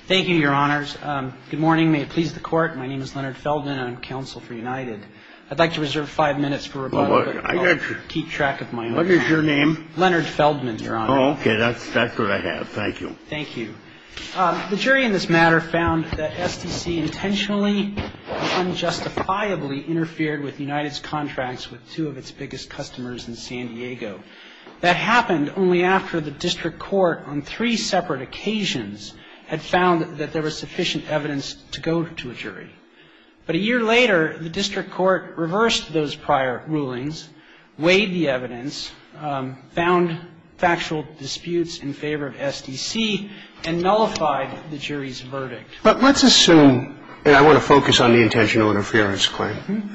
Thank you, your honors. Good morning. May it please the court, my name is Leonard Feldman and I'm counsel for United. I'd like to reserve five minutes for rebuttal, but I'll keep track of my own time. What is your name? Leonard Feldman, your honor. Oh, okay. That's what I have. Thank you. Thank you. The jury in this matter found that STC intentionally and unjustifiably interfered with United's contracts with two of its biggest customers in San Diego. That happened only after the district court on three separate occasions had found that there was sufficient evidence to go to a jury. But a year later, the district court reversed those prior rulings, weighed the evidence, found factual disputes in favor of STC, and nullified the jury's verdict. But let's assume, and I want to focus on the intentional interference claim,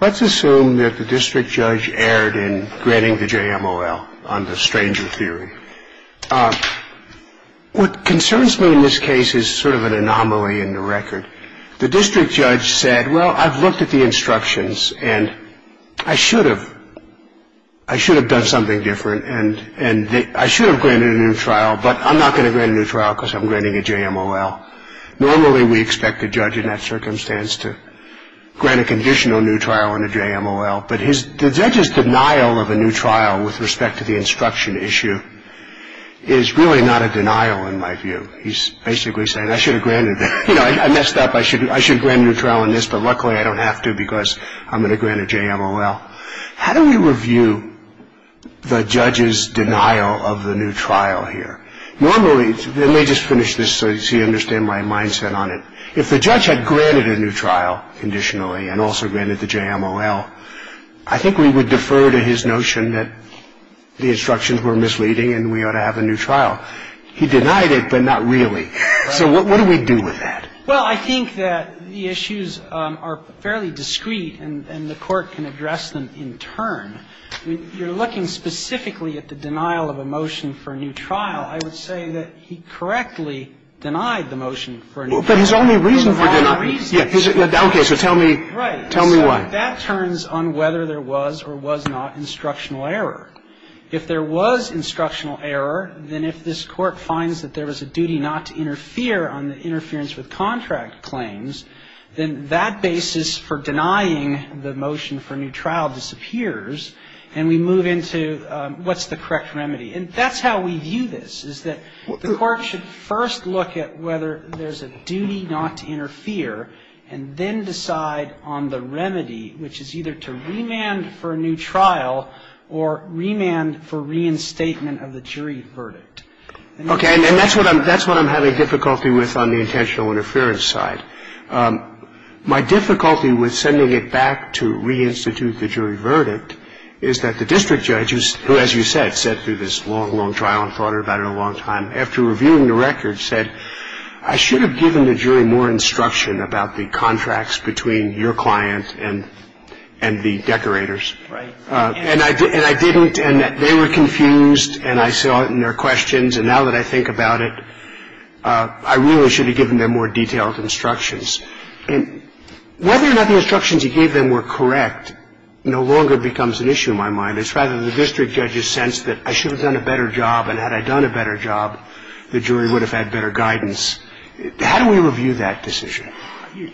let's assume that the district judge erred in granting the JMOL on the stranger theory. What concerns me in this case is sort of an anomaly in the record. The district judge said, well, I've looked at the instructions and I should have done something different and I should have granted a new trial, but I'm not going to grant a new trial because I'm granting a JMOL. Normally, we expect a judge in that circumstance to grant a conditional new trial and a JMOL, but the judge's denial of a new trial with respect to the instruction issue is really not a denial in my view. He's basically saying, I should have granted, you know, I messed up, I should have granted a new trial on this, but luckily I don't have to because I'm going to grant a JMOL. Now, how do we review the judge's denial of the new trial here? Normally, let me just finish this so you understand my mindset on it. If the judge had granted a new trial conditionally and also granted the JMOL, I think we would defer to his notion that the instructions were misleading and we ought to have a new trial. He denied it, but not really. So what do we do with that? Well, I think that the issues are fairly discreet and the Court can address them in turn. You're looking specifically at the denial of a motion for a new trial. I would say that he correctly denied the motion for a new trial. But his only reason for denying it. His only reason. Okay. So tell me why. Right. So that turns on whether there was or was not instructional error. If there was instructional error, then if this Court finds that there was a duty not to interfere on the interference with contract claims, then that basis for denying the motion for a new trial disappears, and we move into what's the correct remedy. And that's how we view this, is that the Court should first look at whether there's a duty not to interfere and then decide on the remedy, which is either to remand for a new trial or remand for reinstatement of the jury verdict. Okay. And that's what I'm having difficulty with on the intentional interference side. My difficulty with sending it back to reinstitute the jury verdict is that the district judge, who, as you said, sat through this long, long trial and thought about it a long time, after reviewing the record, said, I should have given the jury more instruction about the contracts between your client and the decorators. Right. And I didn't. And they were confused, and I saw it in their questions. And now that I think about it, I really should have given them more detailed instructions. And whether or not the instructions he gave them were correct no longer becomes an issue in my mind.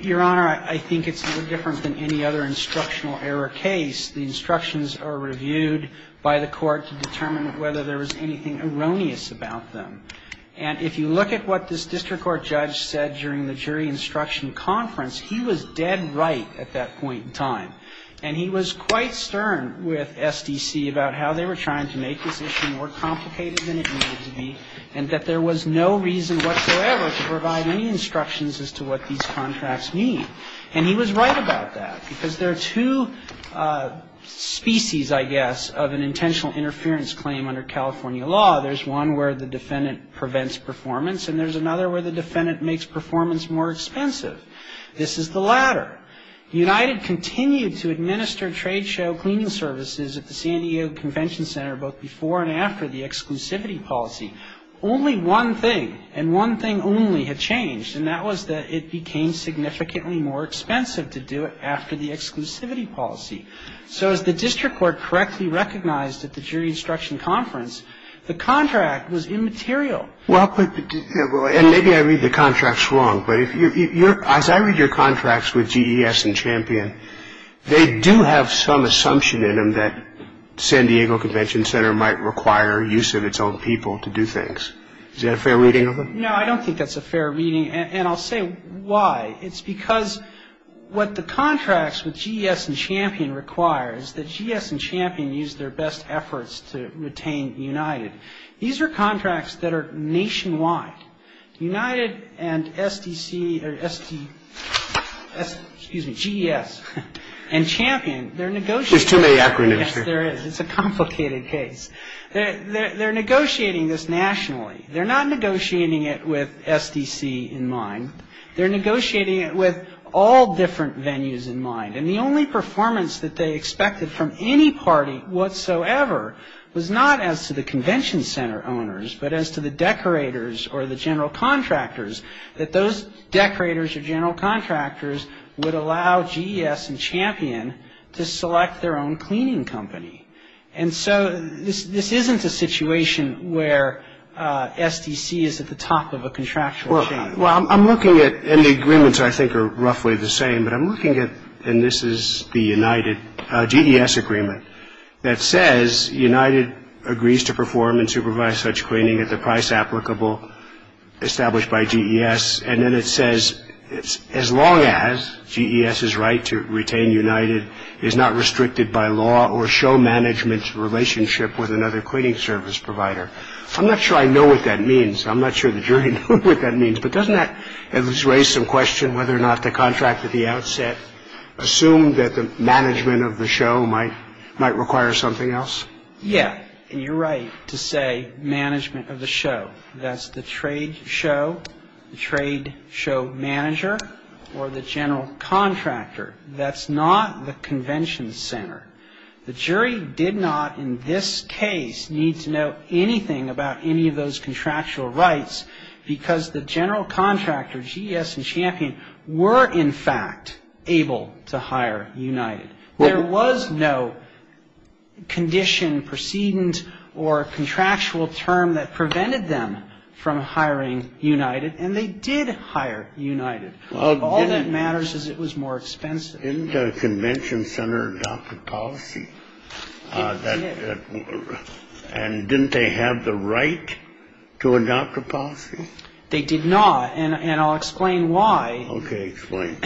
Your Honor, I think it's no different than any other instructional error case. The instructions are reviewed by the Court to determine whether there was anything erroneous about them. And if you look at what this district court judge said during the jury instruction conference, he was dead right at that point in time. And he was right about that, because there are two species, I guess, of an intentional interference claim under California law. There's one where the defendant prevents performance, and there's another where the defendant makes performance more expensive. This is the latter. United continued to administer trade show cleaning services at the CNTC, both before and after the exclusivity policy. Only one thing, and one thing only, had changed, and that was that it became significantly more expensive to do it after the exclusivity policy. So as the district court correctly recognized at the jury instruction conference, the contract was immaterial. And maybe I read the contracts wrong, but as I read your contracts with GES and Champion, they do have some assumption in them that San Diego Convention Center might require use of its own people to do things. Is that a fair reading of them? No, I don't think that's a fair reading, and I'll say why. It's because what the contracts with GES and Champion require is that GES and Champion use their best efforts to retain United. These are contracts that are nationwide. United and GES and Champion, they're negotiating. There's too many acronyms here. Yes, there is. It's a complicated case. They're negotiating this nationally. They're not negotiating it with SDC in mind. They're negotiating it with all different venues in mind, and the only performance that they expected from any party whatsoever was not as to the convention center owners but as to the decorators or the general contractors, that those decorators or general contractors would allow GES and Champion to select their own cleaning company. And so this isn't a situation where SDC is at the top of a contractual chain. Well, I'm looking at, and the agreements I think are roughly the same, but I'm looking at, and this is the GES agreement that says United agrees to perform and supervise such cleaning at the price applicable established by GES, and then it says as long as GES's right to retain United is not restricted by law or show management's relationship with another cleaning service provider. I'm not sure I know what that means. I'm not sure the jury knows what that means, but doesn't that at least raise some question whether or not the contract at the outset assumed that the management of the show might require something else? Yeah, and you're right to say management of the show. That's the trade show, the trade show manager, or the general contractor. That's not the convention center. The jury did not in this case need to know anything about any of those contractual rights because the general contractor, GES and Champion, were in fact able to hire United. There was no condition, precedent, or contractual term that prevented them from hiring United, and they did hire United. All that matters is it was more expensive. Didn't a convention center adopt a policy? It did. And didn't they have the right to adopt a policy? They did not, and I'll explain why. Okay, explain.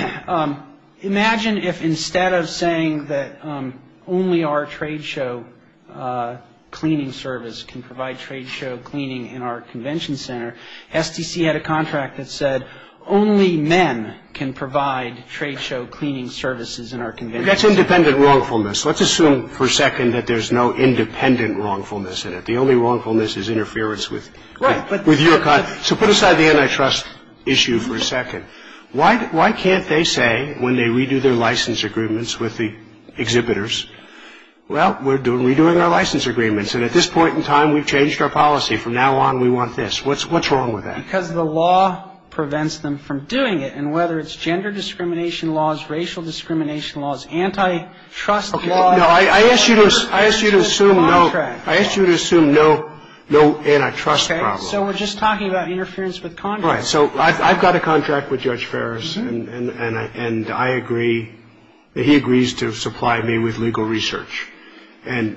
Imagine if instead of saying that only our trade show cleaning service can provide trade show cleaning in our convention center, STC had a contract that said only men can provide trade show cleaning services in our convention center. That's independent wrongfulness. Let's assume for a second that there's no independent wrongfulness in it. The only wrongfulness is interference with your contract. So put aside the antitrust issue for a second. Why can't they say when they redo their license agreements with the exhibitors, well, we're redoing our license agreements, and at this point in time we've changed our policy. From now on we want this. What's wrong with that? Because the law prevents them from doing it, and whether it's gender discrimination laws, racial discrimination laws, antitrust laws. No, I ask you to assume no antitrust problem. So we're just talking about interference with contracts. Right. So I've got a contract with Judge Ferris, and I agree that he agrees to supply me with legal research. And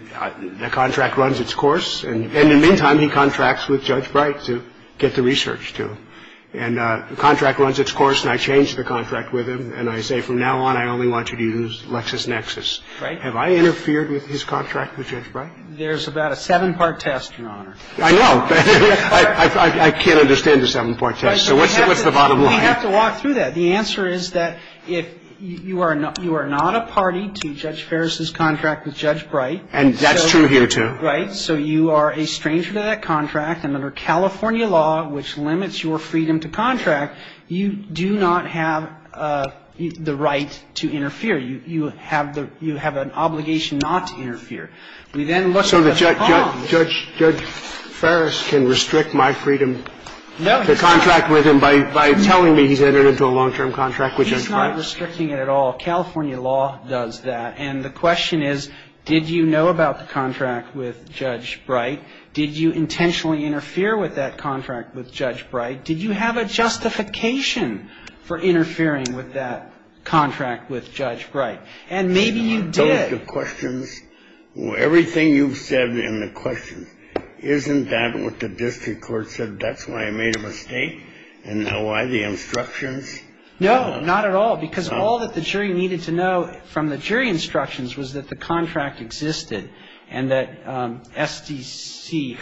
the contract runs its course, and in the meantime he contracts with Judge Bright to get the research to him. And the contract runs its course, and I change the contract with him. And I say from now on I only want you to use LexisNexis. Right. Have I interfered with his contract with Judge Bright? There's about a seven-part test, Your Honor. I know. I can't understand the seven-part test. So what's the bottom line? We have to walk through that. The answer is that if you are not a party to Judge Ferris's contract with Judge Bright. And that's true here, too. Right. So you are a stranger to that contract. And under California law, which limits your freedom to contract, you do not have the right to interfere. You have an obligation not to interfere. We then look at the problem. So Judge Ferris can restrict my freedom to contract with him by telling me he's entered into a long-term contract with Judge Bright? He's not restricting it at all. California law does that. And the question is, did you know about the contract with Judge Bright? Did you intentionally interfere with that contract with Judge Bright? Did you have a justification for interfering with that contract with Judge Bright? And maybe you did. Are those the questions? Everything you've said in the questions, isn't that what the district court said? That's why I made a mistake? And now why the instructions? No, not at all. Because all that the jury needed to know from the jury instructions was that the contract existed and that SDC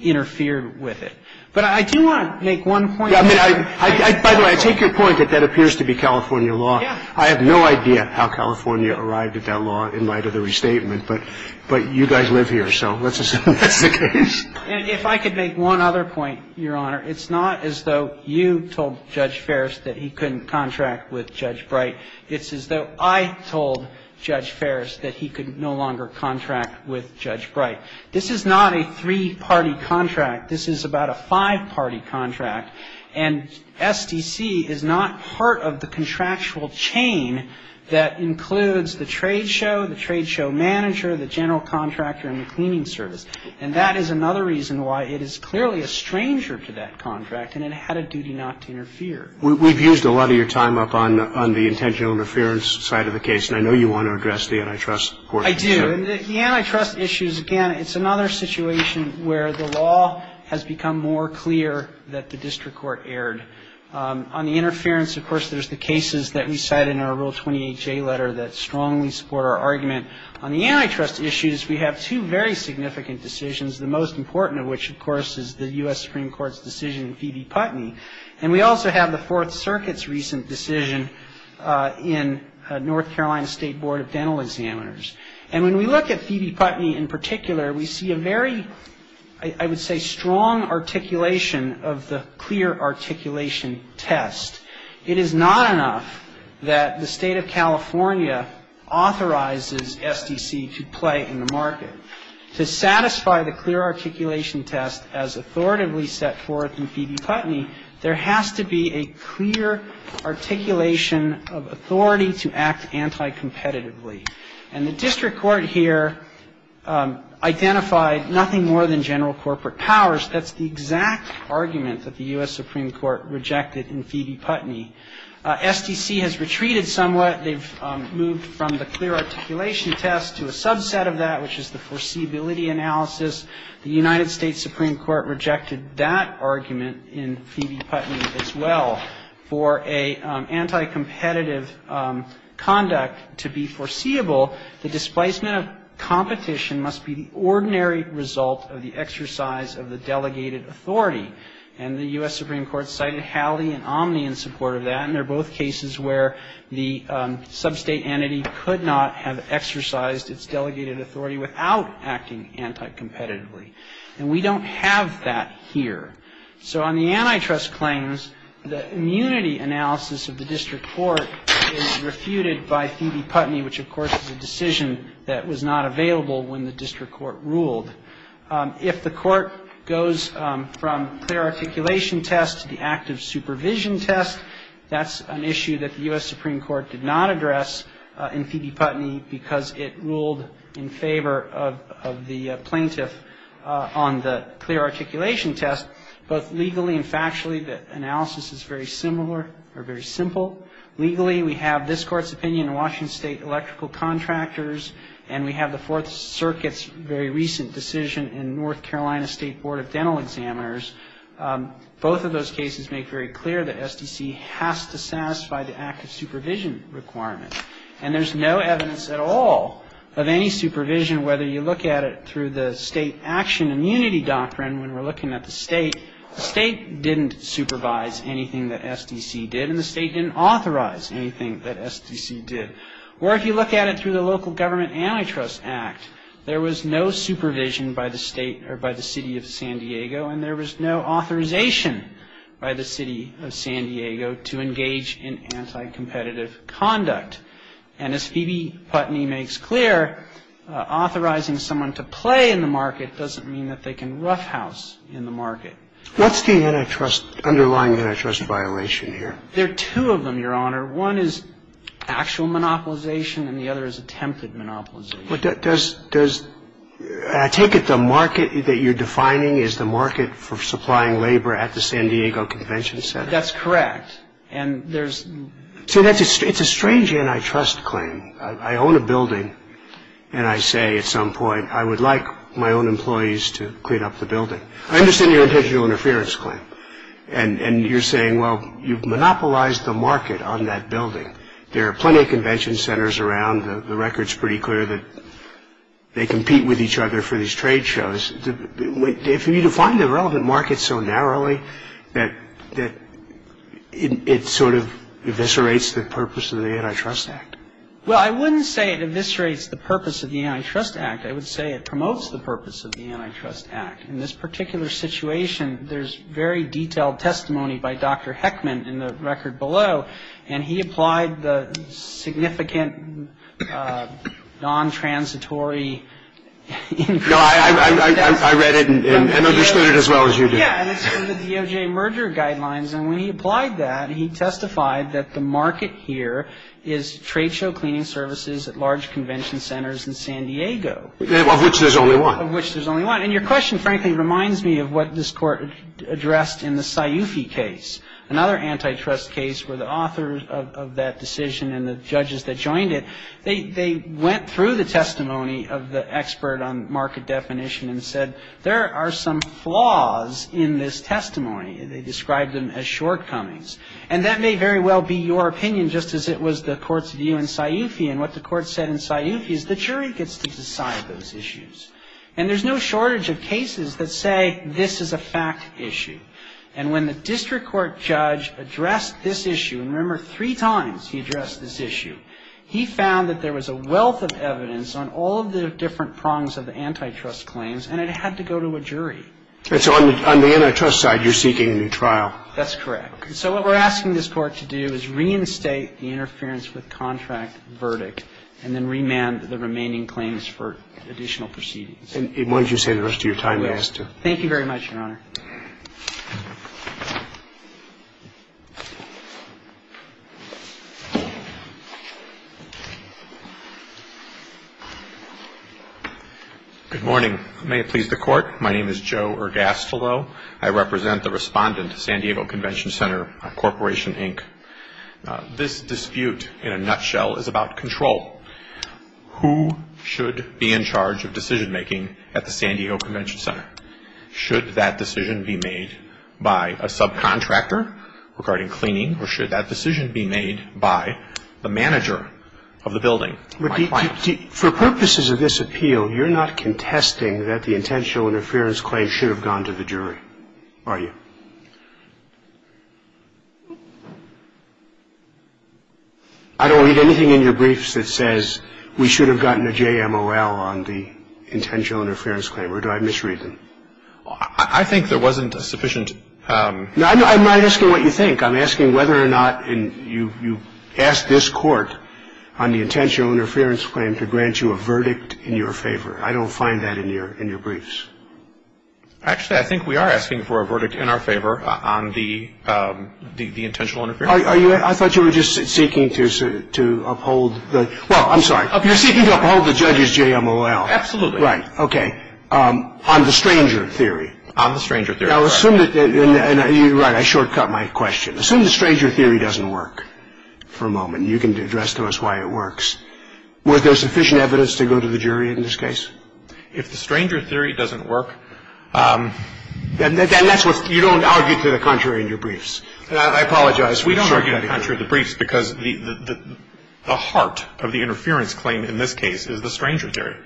interfered with it. But I do want to make one point. By the way, I take your point that that appears to be California law. I have no idea how California arrived at that law in light of the restatement. But you guys live here, so let's assume that's the case. And if I could make one other point, Your Honor, it's not as though you told Judge Ferris that he couldn't contract with Judge Bright. It's as though I told Judge Ferris that he could no longer contract with Judge Bright. This is not a three-party contract. This is about a five-party contract. And SDC is not part of the contractual chain that includes the trade show, the trade show manager, the general contractor, and the cleaning service. And that is another reason why it is clearly a stranger to that contract, and it had a duty not to interfere. We've used a lot of your time up on the intentional interference side of the case, and I know you want to address the antitrust court. I do. And the antitrust issues, again, it's another situation where the law has become more clear that the district court erred. On the interference, of course, there's the cases that we cite in our Rule 28J letter that strongly support our argument. On the antitrust issues, we have two very significant decisions, the most important of which, of course, is the U.S. Supreme Court's decision in Phoebe Putney. And we also have the Fourth Circuit's recent decision in North Carolina State Board of Dental Examiners. And when we look at Phoebe Putney in particular, we see a very, I would say, strong articulation of the clear articulation test. It is not enough that the State of California authorizes SDC to play in the market. To satisfy the clear articulation test as authoritatively set forth in Phoebe Putney, there has to be a clear articulation of authority to act anticompetitively. And the district court here identified nothing more than general corporate powers. That's the exact argument that the U.S. Supreme Court rejected in Phoebe Putney. SDC has retreated somewhat. They've moved from the clear articulation test to a subset of that, which is the foreseeability analysis. The United States Supreme Court rejected that argument in Phoebe Putney as well. And the U.S. Supreme Court cited Halley and Omni in support of that. And they're both cases where the substate entity could not have exercised its delegated authority without acting anticompetitively. And we don't have that here. So on the antitrust claims, the U.S. Supreme Court's decision in Phoebe Putney, it's not enough that the State of California authorizes SDC to play in the market. The immunity analysis of the district court is refuted by Phoebe Putney, which, of course, is a decision that was not available when the district court ruled. If the court goes from clear articulation test to the active supervision test, that's an issue that the U.S. Supreme Court did not address in Phoebe Putney because it ruled in favor of the plaintiff on the clear articulation test. But both legally and factually, the analysis is very similar or very simple. Legally, we have this Court's opinion in Washington State electrical contractors, and we have the Fourth Circuit's very recent decision in North Carolina State Board of Dental Examiners. Both of those cases make very clear that SDC has to satisfy the active supervision requirement. And there's no evidence at all of any supervision, whether you look at it through the state action immunity doctrine when we're looking at the state. The state didn't supervise anything that SDC did, and the state didn't authorize anything that SDC did. Or if you look at it through the Local Government Antitrust Act, there was no supervision by the state or by the City of San Diego, and there was no authorization by the City of San Diego to engage in anti-competitive conduct. And as Phoebe Putney makes clear, authorizing someone to play in the market doesn't mean that they can roughhouse in the market. What's the antitrust, underlying antitrust violation here? There are two of them, Your Honor. One is actual monopolization, and the other is attempted monopolization. Does the market that you're defining is the market for supplying labor at the San Diego Convention Center? That's correct. See, it's a strange antitrust claim. I own a building, and I say at some point, I would like my own employees to clean up the building. I understand your intentional interference claim. And you're saying, well, you've monopolized the market on that building. There are plenty of convention centers around. The record's pretty clear that they compete with each other for these trade shows. If you define the relevant market so narrowly that it sort of eviscerates the purpose of the Antitrust Act. Well, I wouldn't say it eviscerates the purpose of the Antitrust Act. I would say it promotes the purpose of the Antitrust Act. In this particular situation, there's very detailed testimony by Dr. Heckman in the record below, and he applied the significant non-transitory. No, I read it and understood it as well as you did. Yeah, and it's in the DOJ merger guidelines, and when he applied that, he testified that the market here is trade show cleaning services at large convention centers in San Diego. Of which there's only one. Of which there's only one. And your question, frankly, reminds me of what this Court addressed in the Sciufi case, another antitrust case where the authors of that decision and the judges that joined it, they went through the testimony of the expert on market definition and said, there are some flaws in this testimony. They described them as shortcomings. And that may very well be your opinion, just as it was the Court's view in Sciufi. And what the Court said in Sciufi is the jury gets to decide those issues. And there's no shortage of cases that say this is a fact issue. And when the district court judge addressed this issue, and remember, three times he addressed this issue, he found that there was a wealth of evidence on all of the different prongs of the antitrust claims, and it had to go to a jury. And so on the antitrust side, you're seeking a new trial. That's correct. And so what we're asking this Court to do is reinstate the interference with contract verdict and then remand the remaining claims for additional proceedings. And why don't you say the rest of your time, then? Thank you very much, Your Honor. Thank you. Good morning. May it please the Court, my name is Joe Ergastolo. I represent the respondent, San Diego Convention Center Corporation, Inc. This dispute, in a nutshell, is about control. Who should be in charge of decision-making at the San Diego Convention Center? Should that decision be made by a subcontractor regarding cleaning, or should that decision be made by the manager of the building, my client? For purposes of this appeal, you're not contesting that the intentional interference claim should have gone to the jury, are you? I don't read anything in your briefs that says, We should have gotten a JMOL on the intentional interference claim. Or do I misread them? I think there wasn't a sufficient ---- I'm not asking what you think. I'm asking whether or not you asked this Court on the intentional interference claim to grant you a verdict in your favor. I don't find that in your briefs. Actually, I think we are asking for a verdict in our favor on the intentional interference. I thought you were just seeking to uphold the ---- Well, I'm sorry. You're seeking to uphold the judge's JMOL. Absolutely. Right. Okay. On the stranger theory. On the stranger theory. Now, assume that ---- Right. I shortcut my question. Assume the stranger theory doesn't work for a moment. You can address to us why it works. Was there sufficient evidence to go to the jury in this case? If the stranger theory doesn't work ---- Then that's what ---- You don't argue to the contrary in your briefs. I apologize. We don't argue to the contrary in the briefs because the heart of the interference claim in this case is the stranger theory.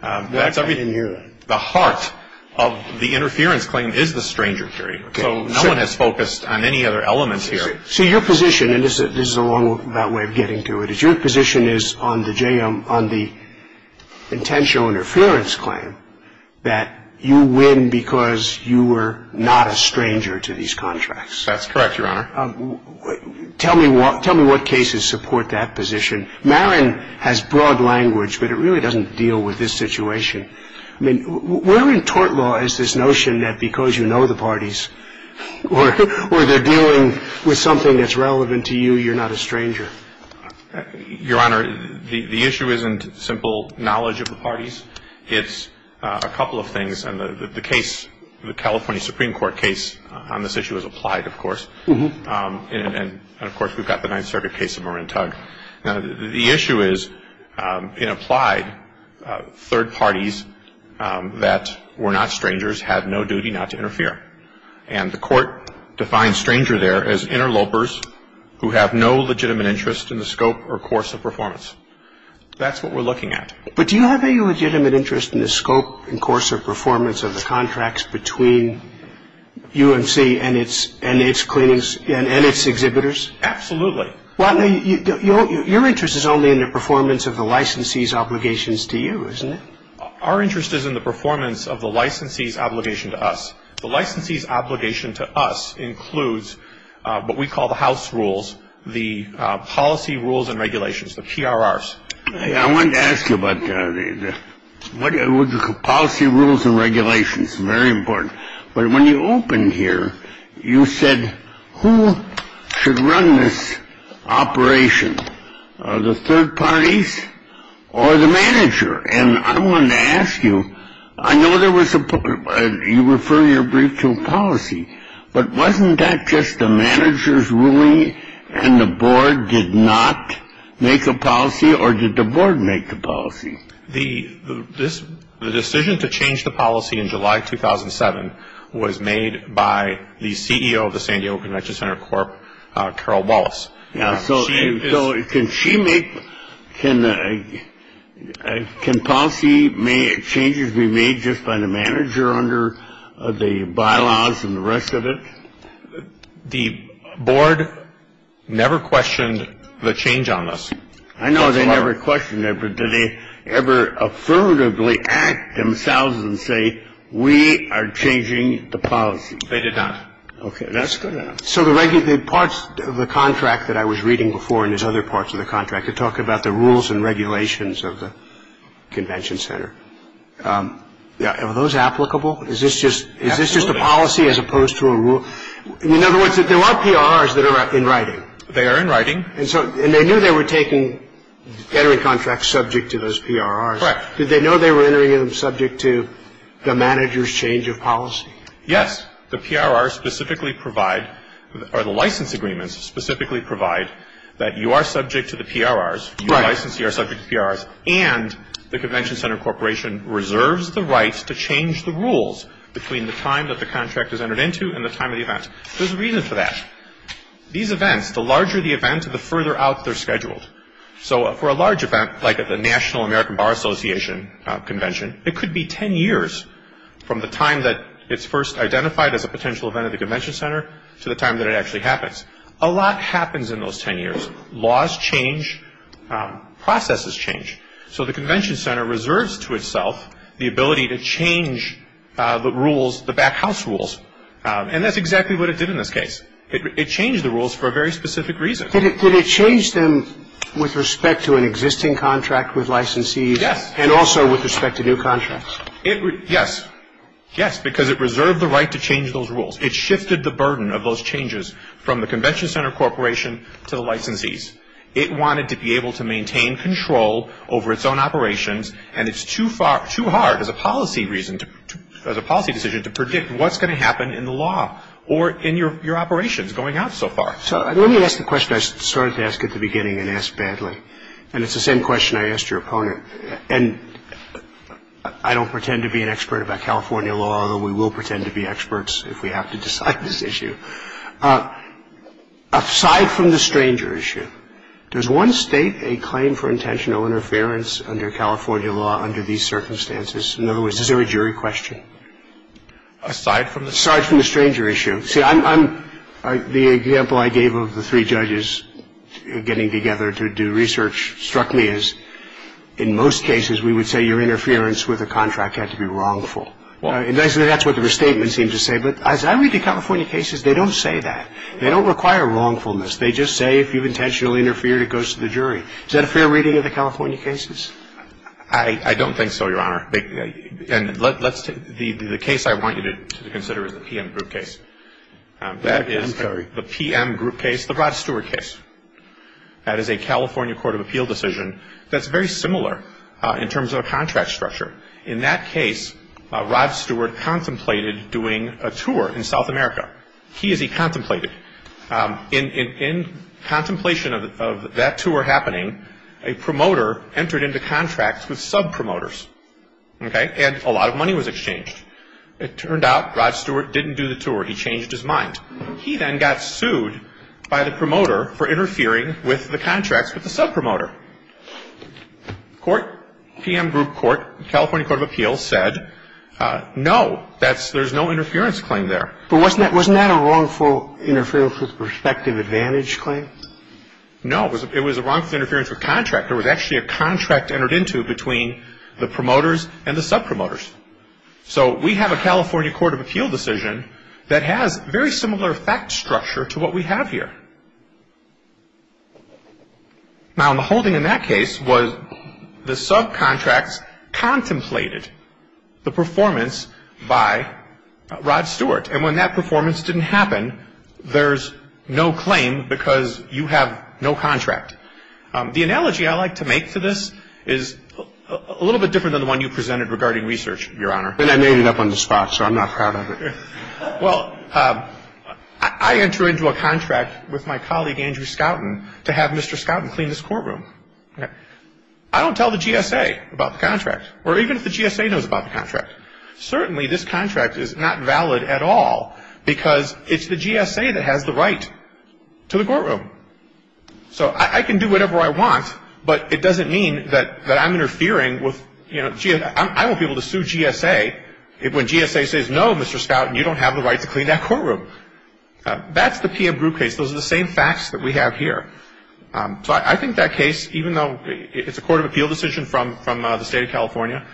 That's ---- I didn't hear that. The heart of the interference claim is the stranger theory. Okay. So no one has focused on any other elements here. So your position, and this is a wrong way of getting to it, is your position is on the JM, on the intentional interference claim that you win because you were not a stranger to these contracts. That's correct, Your Honor. Tell me what cases support that position. Marin has broad language, but it really doesn't deal with this situation. I mean, where in tort law is this notion that because you know the parties, or they're dealing with something that's relevant to you, you're not a stranger? Your Honor, the issue isn't simple knowledge of the parties. It's a couple of things, and the case, the California Supreme Court case on this issue is applied, of course. And, of course, we've got the Ninth Circuit case of Marin Tug. Now, the issue is, in applied, third parties that were not strangers had no duty not to interfere. And the court defines stranger there as interlopers who have no legitimate interest in the scope or course of performance. That's what we're looking at. But do you have any legitimate interest in the scope and course or performance of the contracts between UMC and its exhibitors? Absolutely. Your interest is only in the performance of the licensee's obligations to you, isn't it? Our interest is in the performance of the licensee's obligation to us. The licensee's obligation to us includes what we call the house rules, the policy rules and regulations, the PRRs. I wanted to ask you about the policy rules and regulations. Very important. But when you opened here, you said, who should run this operation, the third parties or the manager? And I wanted to ask you, I know there was a you refer your brief to a policy, but wasn't that just the manager's ruling and the board did not make a policy or did the board make the policy? The decision to change the policy in July 2007 was made by the CEO of the San Diego Convention Center Corp, Carol Wallace. So can she make can I can policy made changes be made just by the manager under the bylaws and the rest of it? The board never questioned the change on us. I know they never questioned it. But did they ever affirmatively act themselves and say, we are changing the policy? They did not. OK, that's good. So the regular parts of the contract that I was reading before and there's other parts of the contract to talk about the rules and regulations of the convention center. Are those applicable? Is this just is this just a policy as opposed to a rule? In other words, there are PRRs that are in writing. They are in writing. And so they knew they were taking entering contracts subject to those PRRs. Correct. Did they know they were entering them subject to the manager's change of policy? Yes. The PRRs specifically provide or the license agreements specifically provide that you are subject to the PRRs. Your licensees are subject to PRRs. And the convention center corporation reserves the right to change the rules between the time that the contract is entered into and the time of the event. There's a reason for that. These events, the larger the event, the further out they're scheduled. So for a large event like the National American Bar Association convention, it could be ten years from the time that it's first identified as a potential event at the convention center to the time that it actually happens. A lot happens in those ten years. Laws change. Processes change. So the convention center reserves to itself the ability to change the rules, the backhouse rules. And that's exactly what it did in this case. It changed the rules for a very specific reason. Did it change them with respect to an existing contract with licensees? Yes. And also with respect to new contracts? Yes. Yes, because it reserved the right to change those rules. It shifted the burden of those changes from the convention center corporation to the licensees. It wanted to be able to maintain control over its own operations, and it's too hard as a policy decision to predict what's going to happen in the law or in your operations going out so far. So let me ask the question I started to ask at the beginning and asked badly, and it's the same question I asked your opponent, and I don't pretend to be an expert about California law, although we will pretend to be experts if we have to decide this issue. Aside from the stranger issue, does one state a claim for intentional interference under California law under these circumstances? In other words, is there a jury question? Aside from the stranger issue. See, I'm the example I gave of the three judges getting together to do research struck me as in most cases we would say your interference with a contract had to be wrongful. And that's what the restatement seems to say. But as I read the California cases, they don't say that. They don't require wrongfulness. They just say if you've intentionally interfered, it goes to the jury. Is that a fair reading of the California cases? I don't think so, Your Honor. The case I want you to consider is the PM group case. That is the PM group case, the Rod Stewart case. That is a California court of appeal decision that's very similar in terms of a contract structure. In that case, Rod Stewart contemplated doing a tour in South America. He is a contemplated. In contemplation of that tour happening, a promoter entered into contracts with sub-promoters, okay? And a lot of money was exchanged. It turned out Rod Stewart didn't do the tour. He changed his mind. He then got sued by the promoter for interfering with the contracts with the sub-promoter. Court, PM group court, California court of appeals said, no, there's no interference claim there. But wasn't that a wrongful interference with perspective advantage claim? No, it was a wrongful interference with contract. It was actually a contract entered into between the promoters and the sub-promoters. So we have a California court of appeal decision that has very similar fact structure to what we have here. Now, the whole thing in that case was the sub-contracts contemplated the performance by Rod Stewart. And when that performance didn't happen, there's no claim because you have no contract. The analogy I like to make to this is a little bit different than the one you presented regarding research, Your Honor. And I made it up on the spot, so I'm not proud of it. Well, I enter into a contract with my colleague, Andrew Skouten, to have Mr. Skouten clean this courtroom. I don't tell the GSA about the contract, or even if the GSA knows about the contract. Certainly, this contract is not valid at all because it's the GSA that has the right to the courtroom. So I can do whatever I want, but it doesn't mean that I'm interfering with, you know, GSA. I won't be able to sue GSA when GSA says, no, Mr. Skouten, you don't have the right to clean that courtroom. That's the P.M. Brew case. Those are the same facts that we have here. So I think that case, even though it's a court of appeal decision from the State of California,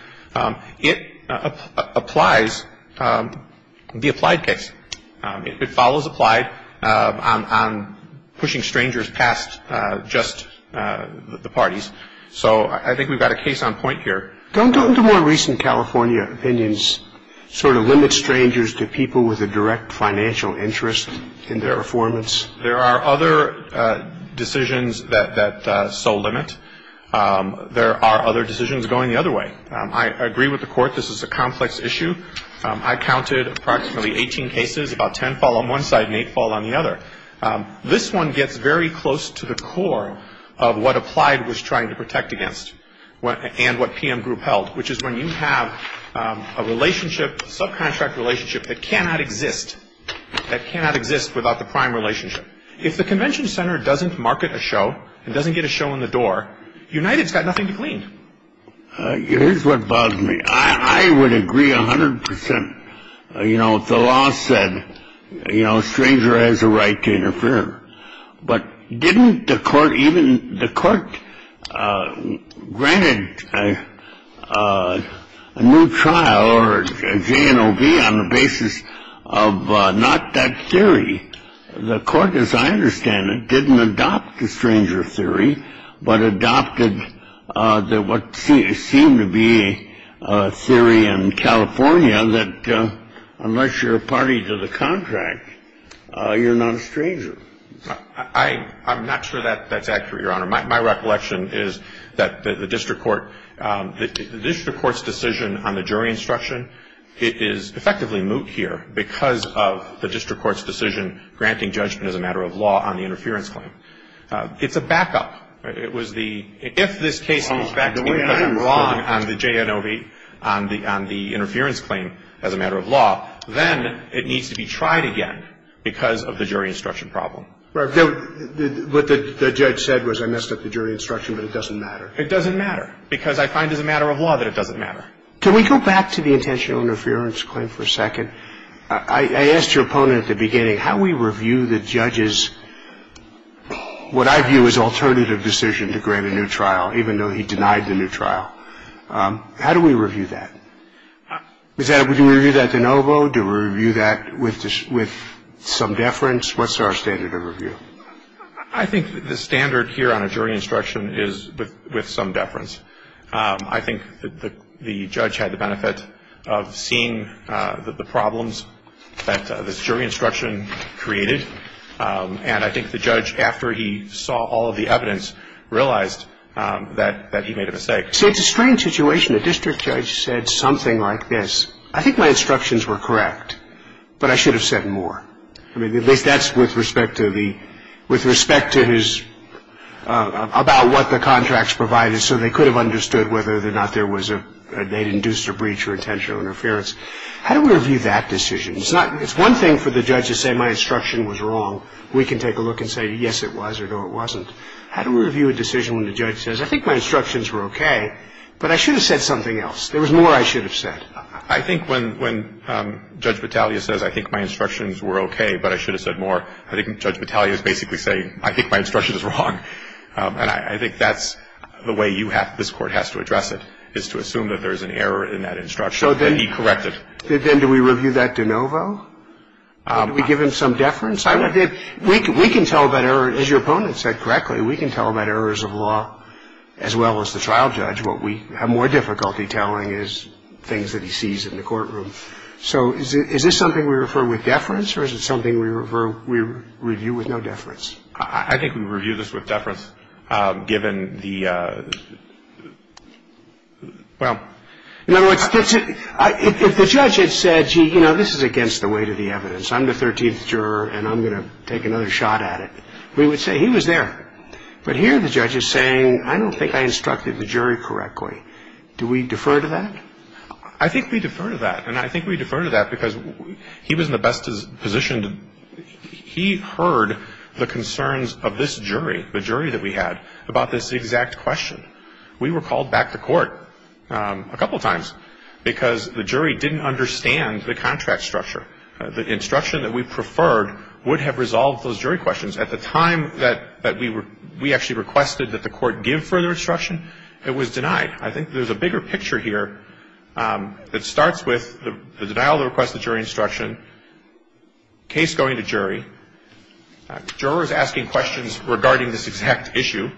it applies the applied case. It follows applied on pushing strangers past just the parties. So I think we've got a case on point here. Don't the more recent California opinions sort of limit strangers to people with a direct financial interest in their performance? There are other decisions that so limit. There are other decisions going the other way. I agree with the Court. This is a complex issue. I counted approximately 18 cases, about 10 fall on one side and 8 fall on the other. This one gets very close to the core of what applied was trying to protect against and what P.M. Group held, which is when you have a relationship, subcontract relationship that cannot exist, that cannot exist without the prime relationship. If the convention center doesn't market a show and doesn't get a show in the door, United's got nothing to clean. Here's what bothers me. I would agree 100 percent. You know, the law said, you know, stranger has a right to interfere. But didn't the court even the court granted a new trial or J. And I'll be on the basis of not that theory. The court, as I understand it, didn't adopt the stranger theory, but adopted what seemed to be a theory in California that unless you're a party to the contract, you're not a stranger. I'm not sure that that's accurate, Your Honor. My recollection is that the district court the district court's decision on the jury instruction is effectively moot here because of the district court's decision granting judgment as a matter of law on the interference claim. It's a backup. It was the if this case was backed in because I'm wrong on the J. On the interference claim as a matter of law, then it needs to be tried again because of the jury instruction problem. What the judge said was I messed up the jury instruction, but it doesn't matter. It doesn't matter because I find as a matter of law that it doesn't matter. Can we go back to the intentional interference claim for a second? I asked your opponent at the beginning how we review the judge's what I view as alternative decision to grant a new trial, even though he denied the new trial. How do we review that? Do we review that de novo? Do we review that with some deference? What's our standard of review? I think the standard here on a jury instruction is with some deference. I think the judge had the benefit of seeing the problems that this jury instruction created, and I think the judge, after he saw all of the evidence, realized that he made a mistake. See, it's a strange situation. A district judge said something like this. I think my instructions were correct, but I should have said more. I mean, at least that's with respect to the, with respect to his, about what the contracts provided, so they could have understood whether or not there was a, they'd induced a breach or intentional interference. How do we review that decision? It's not, it's one thing for the judge to say my instruction was wrong. We can take a look and say, yes, it was, or no, it wasn't. How do we review a decision when the judge says, I think my instructions were okay, but I should have said something else. There was more I should have said. I think when Judge Battaglia says, I think my instructions were okay, but I should have said more, I think Judge Battaglia is basically saying, I think my instruction is wrong. And I think that's the way you have, this Court has to address it, is to assume that there is an error in that instruction that he corrected. So then do we review that de novo? Do we give him some deference? We can tell about error, as your opponent said correctly, we can tell about errors of law as well as the trial judge. What we have more difficulty telling is things that he sees in the courtroom. So is this something we refer with deference, or is it something we review with no deference? I think we review this with deference, given the, well. In other words, if the judge had said, gee, you know, this is against the weight of the evidence. I'm the 13th juror, and I'm going to take another shot at it, we would say he was there. But here the judge is saying, I don't think I instructed the jury correctly. Do we defer to that? I think we defer to that. And I think we defer to that because he was in the best position to, he heard the concerns of this jury, the jury that we had, about this exact question. We were called back to court a couple of times because the jury didn't understand the contract structure. The instruction that we preferred would have resolved those jury questions. At the time that we actually requested that the court give further instruction, it was denied. I think there's a bigger picture here that starts with the denial of the request of jury instruction, case going to jury, jurors asking questions regarding this exact issue,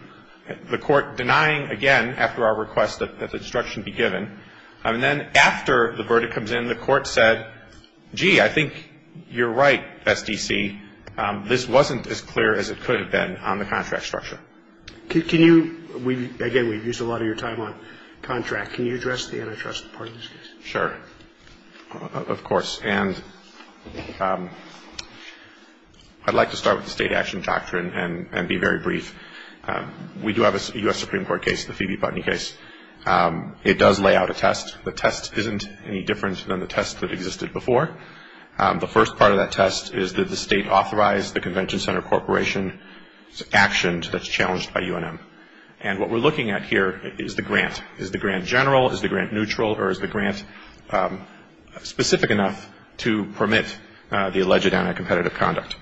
the court denying again after our request that the instruction be given. And then after the verdict comes in, the court said, gee, I think you're right, best DC. This wasn't as clear as it could have been on the contract structure. Can you, again, we've used a lot of your time on contract. Can you address the antitrust part of this case? Sure. Of course. And I'd like to start with the state action doctrine and be very brief. We do have a U.S. Supreme Court case, the Phoebe Putney case. It does lay out a test. The test isn't any different than the test that existed before. The first part of that test is that the state authorized the Convention Center Corporation's actions that's challenged by UNM. And what we're looking at here is the grant. Is the grant general? Is the grant neutral? Or is the grant specific enough to permit the alleged anti-competitive conduct?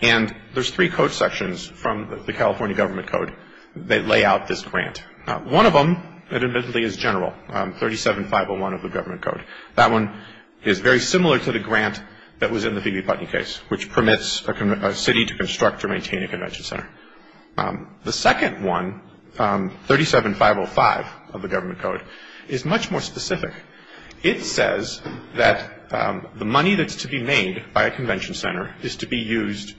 And there's three code sections from the California Government Code that lay out this grant. One of them, admittedly, is general, 37501 of the Government Code. That one is very similar to the grant that was in the Phoebe Putney case, which permits a city to construct or maintain a convention center. The second one, 37505 of the Government Code, is much more specific. It says that the money that's to be made by a convention center is to be used,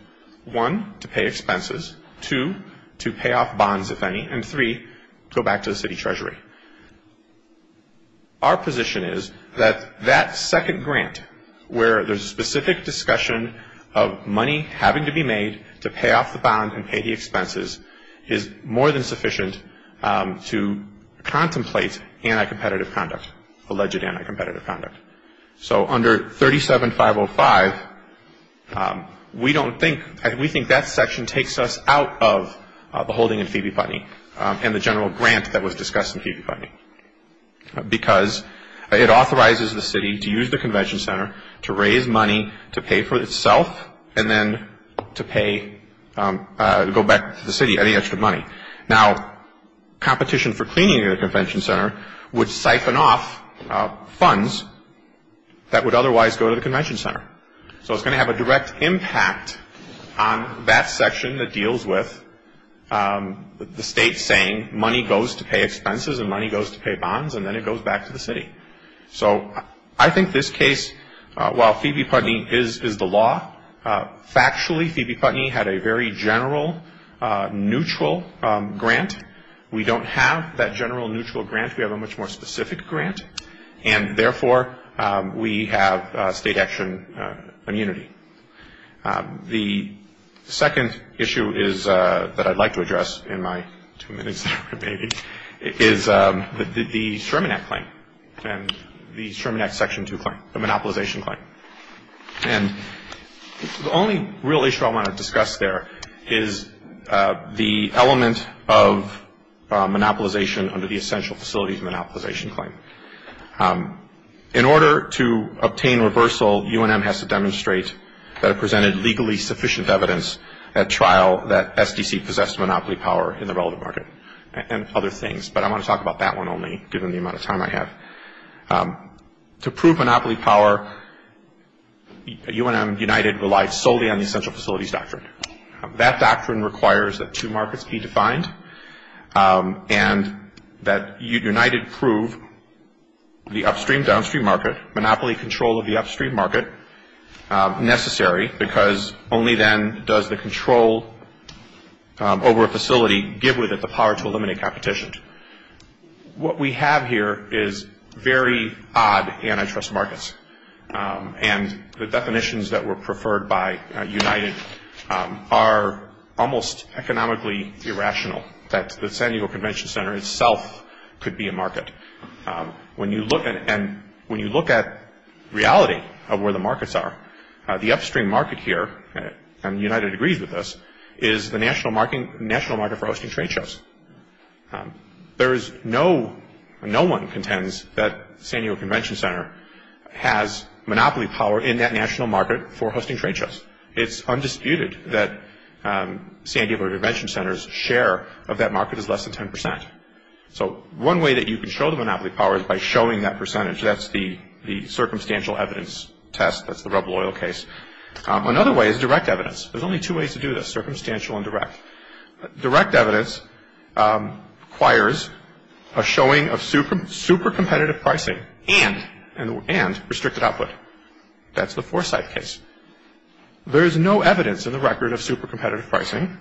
one, to pay expenses, two, to pay off bonds, if any, and three, go back to the city treasury. Our position is that that second grant, where there's a specific discussion of money having to be made to pay off the bond and pay the expenses, is more than sufficient to contemplate anti-competitive conduct, alleged anti-competitive conduct. So under 37505, we don't think, we think that section takes us out of the holding in Phoebe Putney and the general grant that was discussed in Phoebe Putney, because it authorizes the city to use the convention center to raise money to pay for itself and then to pay, go back to the city any extra money. Now, competition for cleaning the convention center would siphon off funds that would otherwise go to the convention center. So it's going to have a direct impact on that section that deals with the state saying money goes to pay expenses and money goes to pay bonds and then it goes back to the city. So I think this case, while Phoebe Putney is the law, factually, Phoebe Putney had a very general, neutral grant. We don't have that general, neutral grant. We have a much more specific grant, and therefore, we have state action immunity. The second issue that I'd like to address in my two minutes remaining is the Sherman Act claim, and the Sherman Act section 2 claim, the monopolization claim. And the only real issue I want to discuss there is the element of monopolization under the essential facilities monopolization claim. In order to obtain reversal, UNM has to demonstrate that it presented legally sufficient evidence at trial that SDC possessed monopoly power in the relevant market and other things, but I want to talk about that one only, given the amount of time I have. To prove monopoly power, UNM, United, relied solely on the essential facilities doctrine. That doctrine requires that two markets be defined and that United prove the upstream-downstream market, monopoly control of the upstream market, necessary, because only then does the control over a facility give with it the power to eliminate competition. What we have here is very odd antitrust markets, and the definitions that were preferred by United are almost economically irrational, that the San Diego Convention Center itself could be a market. When you look at reality of where the markets are, the upstream market here, and United agrees with this, is the national market for hosting trade shows. No one contends that San Diego Convention Center has monopoly power in that national market for hosting trade shows. It's undisputed that San Diego Convention Center's share of that market is less than 10%. So one way that you can show the monopoly power is by showing that percentage. That's the circumstantial evidence test. That's the rubble oil case. Another way is direct evidence. There's only two ways to do this, circumstantial and direct. Direct evidence requires a showing of super competitive pricing and restricted output. That's the Forsythe case. There is no evidence in the record of super competitive pricing,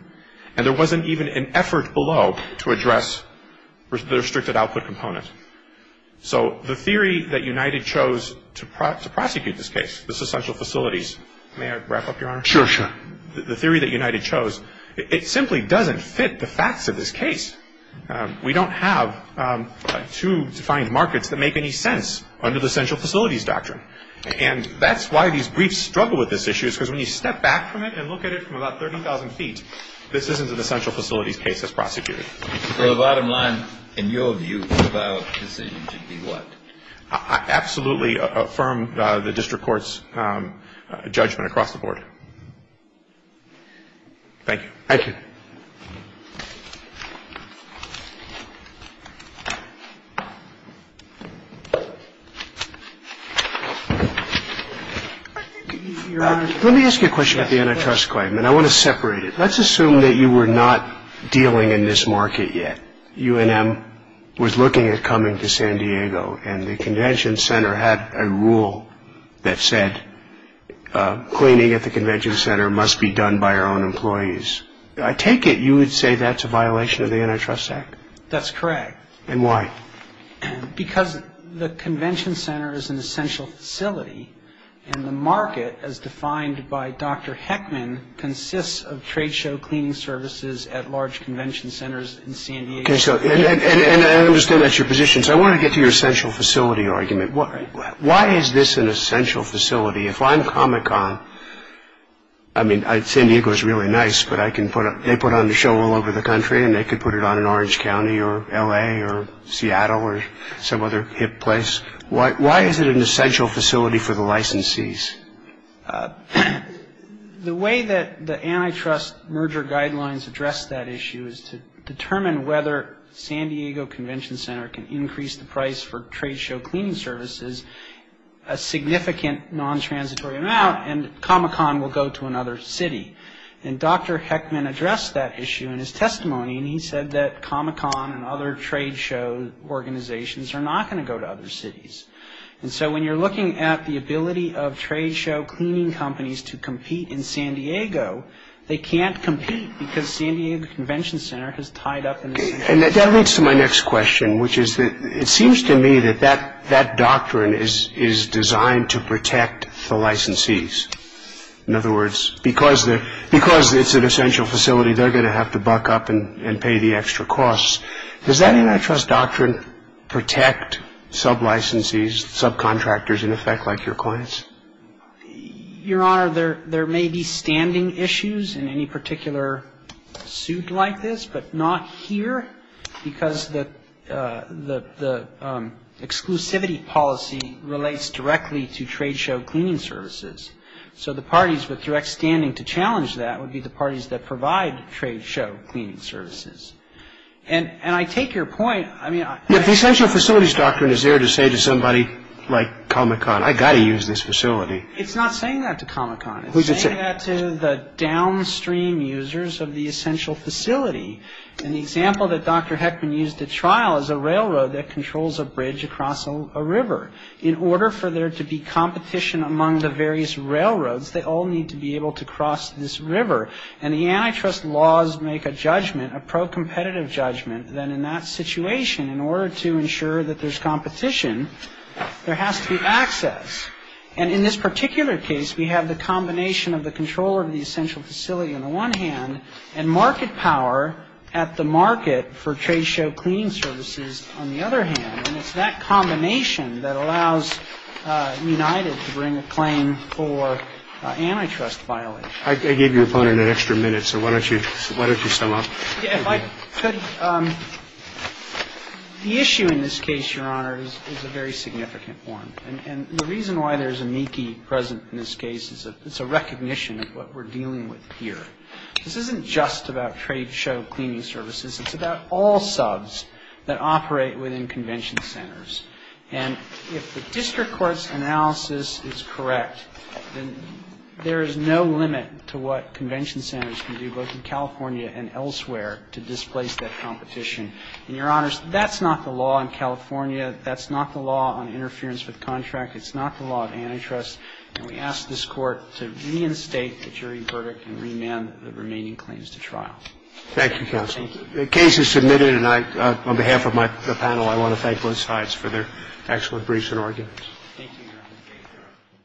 and there wasn't even an effort below to address the restricted output component. So the theory that United chose to prosecute this case, this essential facilities, may I wrap up, Your Honor? Sure, sure. The theory that United chose, it simply doesn't fit the facts of this case. We don't have two defined markets that make any sense under the essential facilities doctrine. And that's why these briefs struggle with this issue, because when you step back from it and look at it from about 30,000 feet, this isn't an essential facilities case that's prosecuted. So the bottom line, in your view, the valid decision should be what? Absolutely affirm the district court's judgment across the board. Thank you. Thank you. Let me ask you a question about the antitrust claim, and I want to separate it. Let's assume that you were not dealing in this market yet. UNM was looking at coming to San Diego, and the convention center had a rule that said cleaning at the convention center must be done by our own employees. I take it you would say that's a violation of the Antitrust Act? That's correct. And why? Because the convention center is an essential facility, and the market, as defined by Dr. Heckman, consists of trade show cleaning services at large convention centers in San Diego. And I understand that's your position. So I want to get to your essential facility argument. Why is this an essential facility? If I'm Comic-Con, I mean, San Diego is really nice, but they put on the show all over the country, and they could put it on in Orange County or L.A. or Seattle or some other hip place. Why is it an essential facility for the licensees? The way that the antitrust merger guidelines address that issue is to determine whether San Diego Convention Center can increase the price for trade show cleaning services a significant non-transitory amount, and Comic-Con will go to another city. And Dr. Heckman addressed that issue in his testimony, and he said that Comic-Con and other trade show organizations are not going to go to other cities. And so when you're looking at the ability of trade show cleaning companies to compete in San Diego, they can't compete because San Diego Convention Center has tied up in the city. And that leads to my next question, which is that it seems to me that that doctrine is designed to protect the licensees. In other words, because it's an essential facility, they're going to have to buck up and pay the extra costs. Does that antitrust doctrine protect sub-licensees, subcontractors, in effect, like your clients? Your Honor, there may be standing issues in any particular suit like this, but not here because the exclusivity policy relates directly to trade show cleaning services. So the parties with direct standing to challenge that would be the parties that provide trade show cleaning services. And I take your point. If the essential facilities doctrine is there to say to somebody like Comic-Con, I've got to use this facility. It's not saying that to Comic-Con. It's saying that to the downstream users of the essential facility. And the example that Dr. Heckman used at trial is a railroad that controls a bridge across a river. In order for there to be competition among the various railroads, they all need to be able to cross this river. And the antitrust laws make a judgment, a pro-competitive judgment, that in that situation, in order to ensure that there's competition, there has to be access. And in this particular case, we have the combination of the controller of the essential facility on the one hand and market power at the market for trade show cleaning services on the other hand. And it's that combination that allows United to bring a claim for antitrust violations. I gave your opponent an extra minute, so why don't you sum up? If I could, the issue in this case, Your Honor, is a very significant one. And the reason why there's a meekie present in this case is it's a recognition of what we're dealing with here. This isn't just about trade show cleaning services. It's about all subs that operate within convention centers. And if the district court's analysis is correct, then there is no limit to what convention centers can do, both in California and elsewhere, to displace that competition. And, Your Honors, that's not the law in California. That's not the law on interference with contract. It's not the law of antitrust. And we ask this Court to reinstate the jury verdict and remand the remaining claims to trial. Thank you, counsel. The case is submitted. And I, on behalf of my panel, I want to thank both sides for their excellent briefs and arguments. Thank you, Your Honor.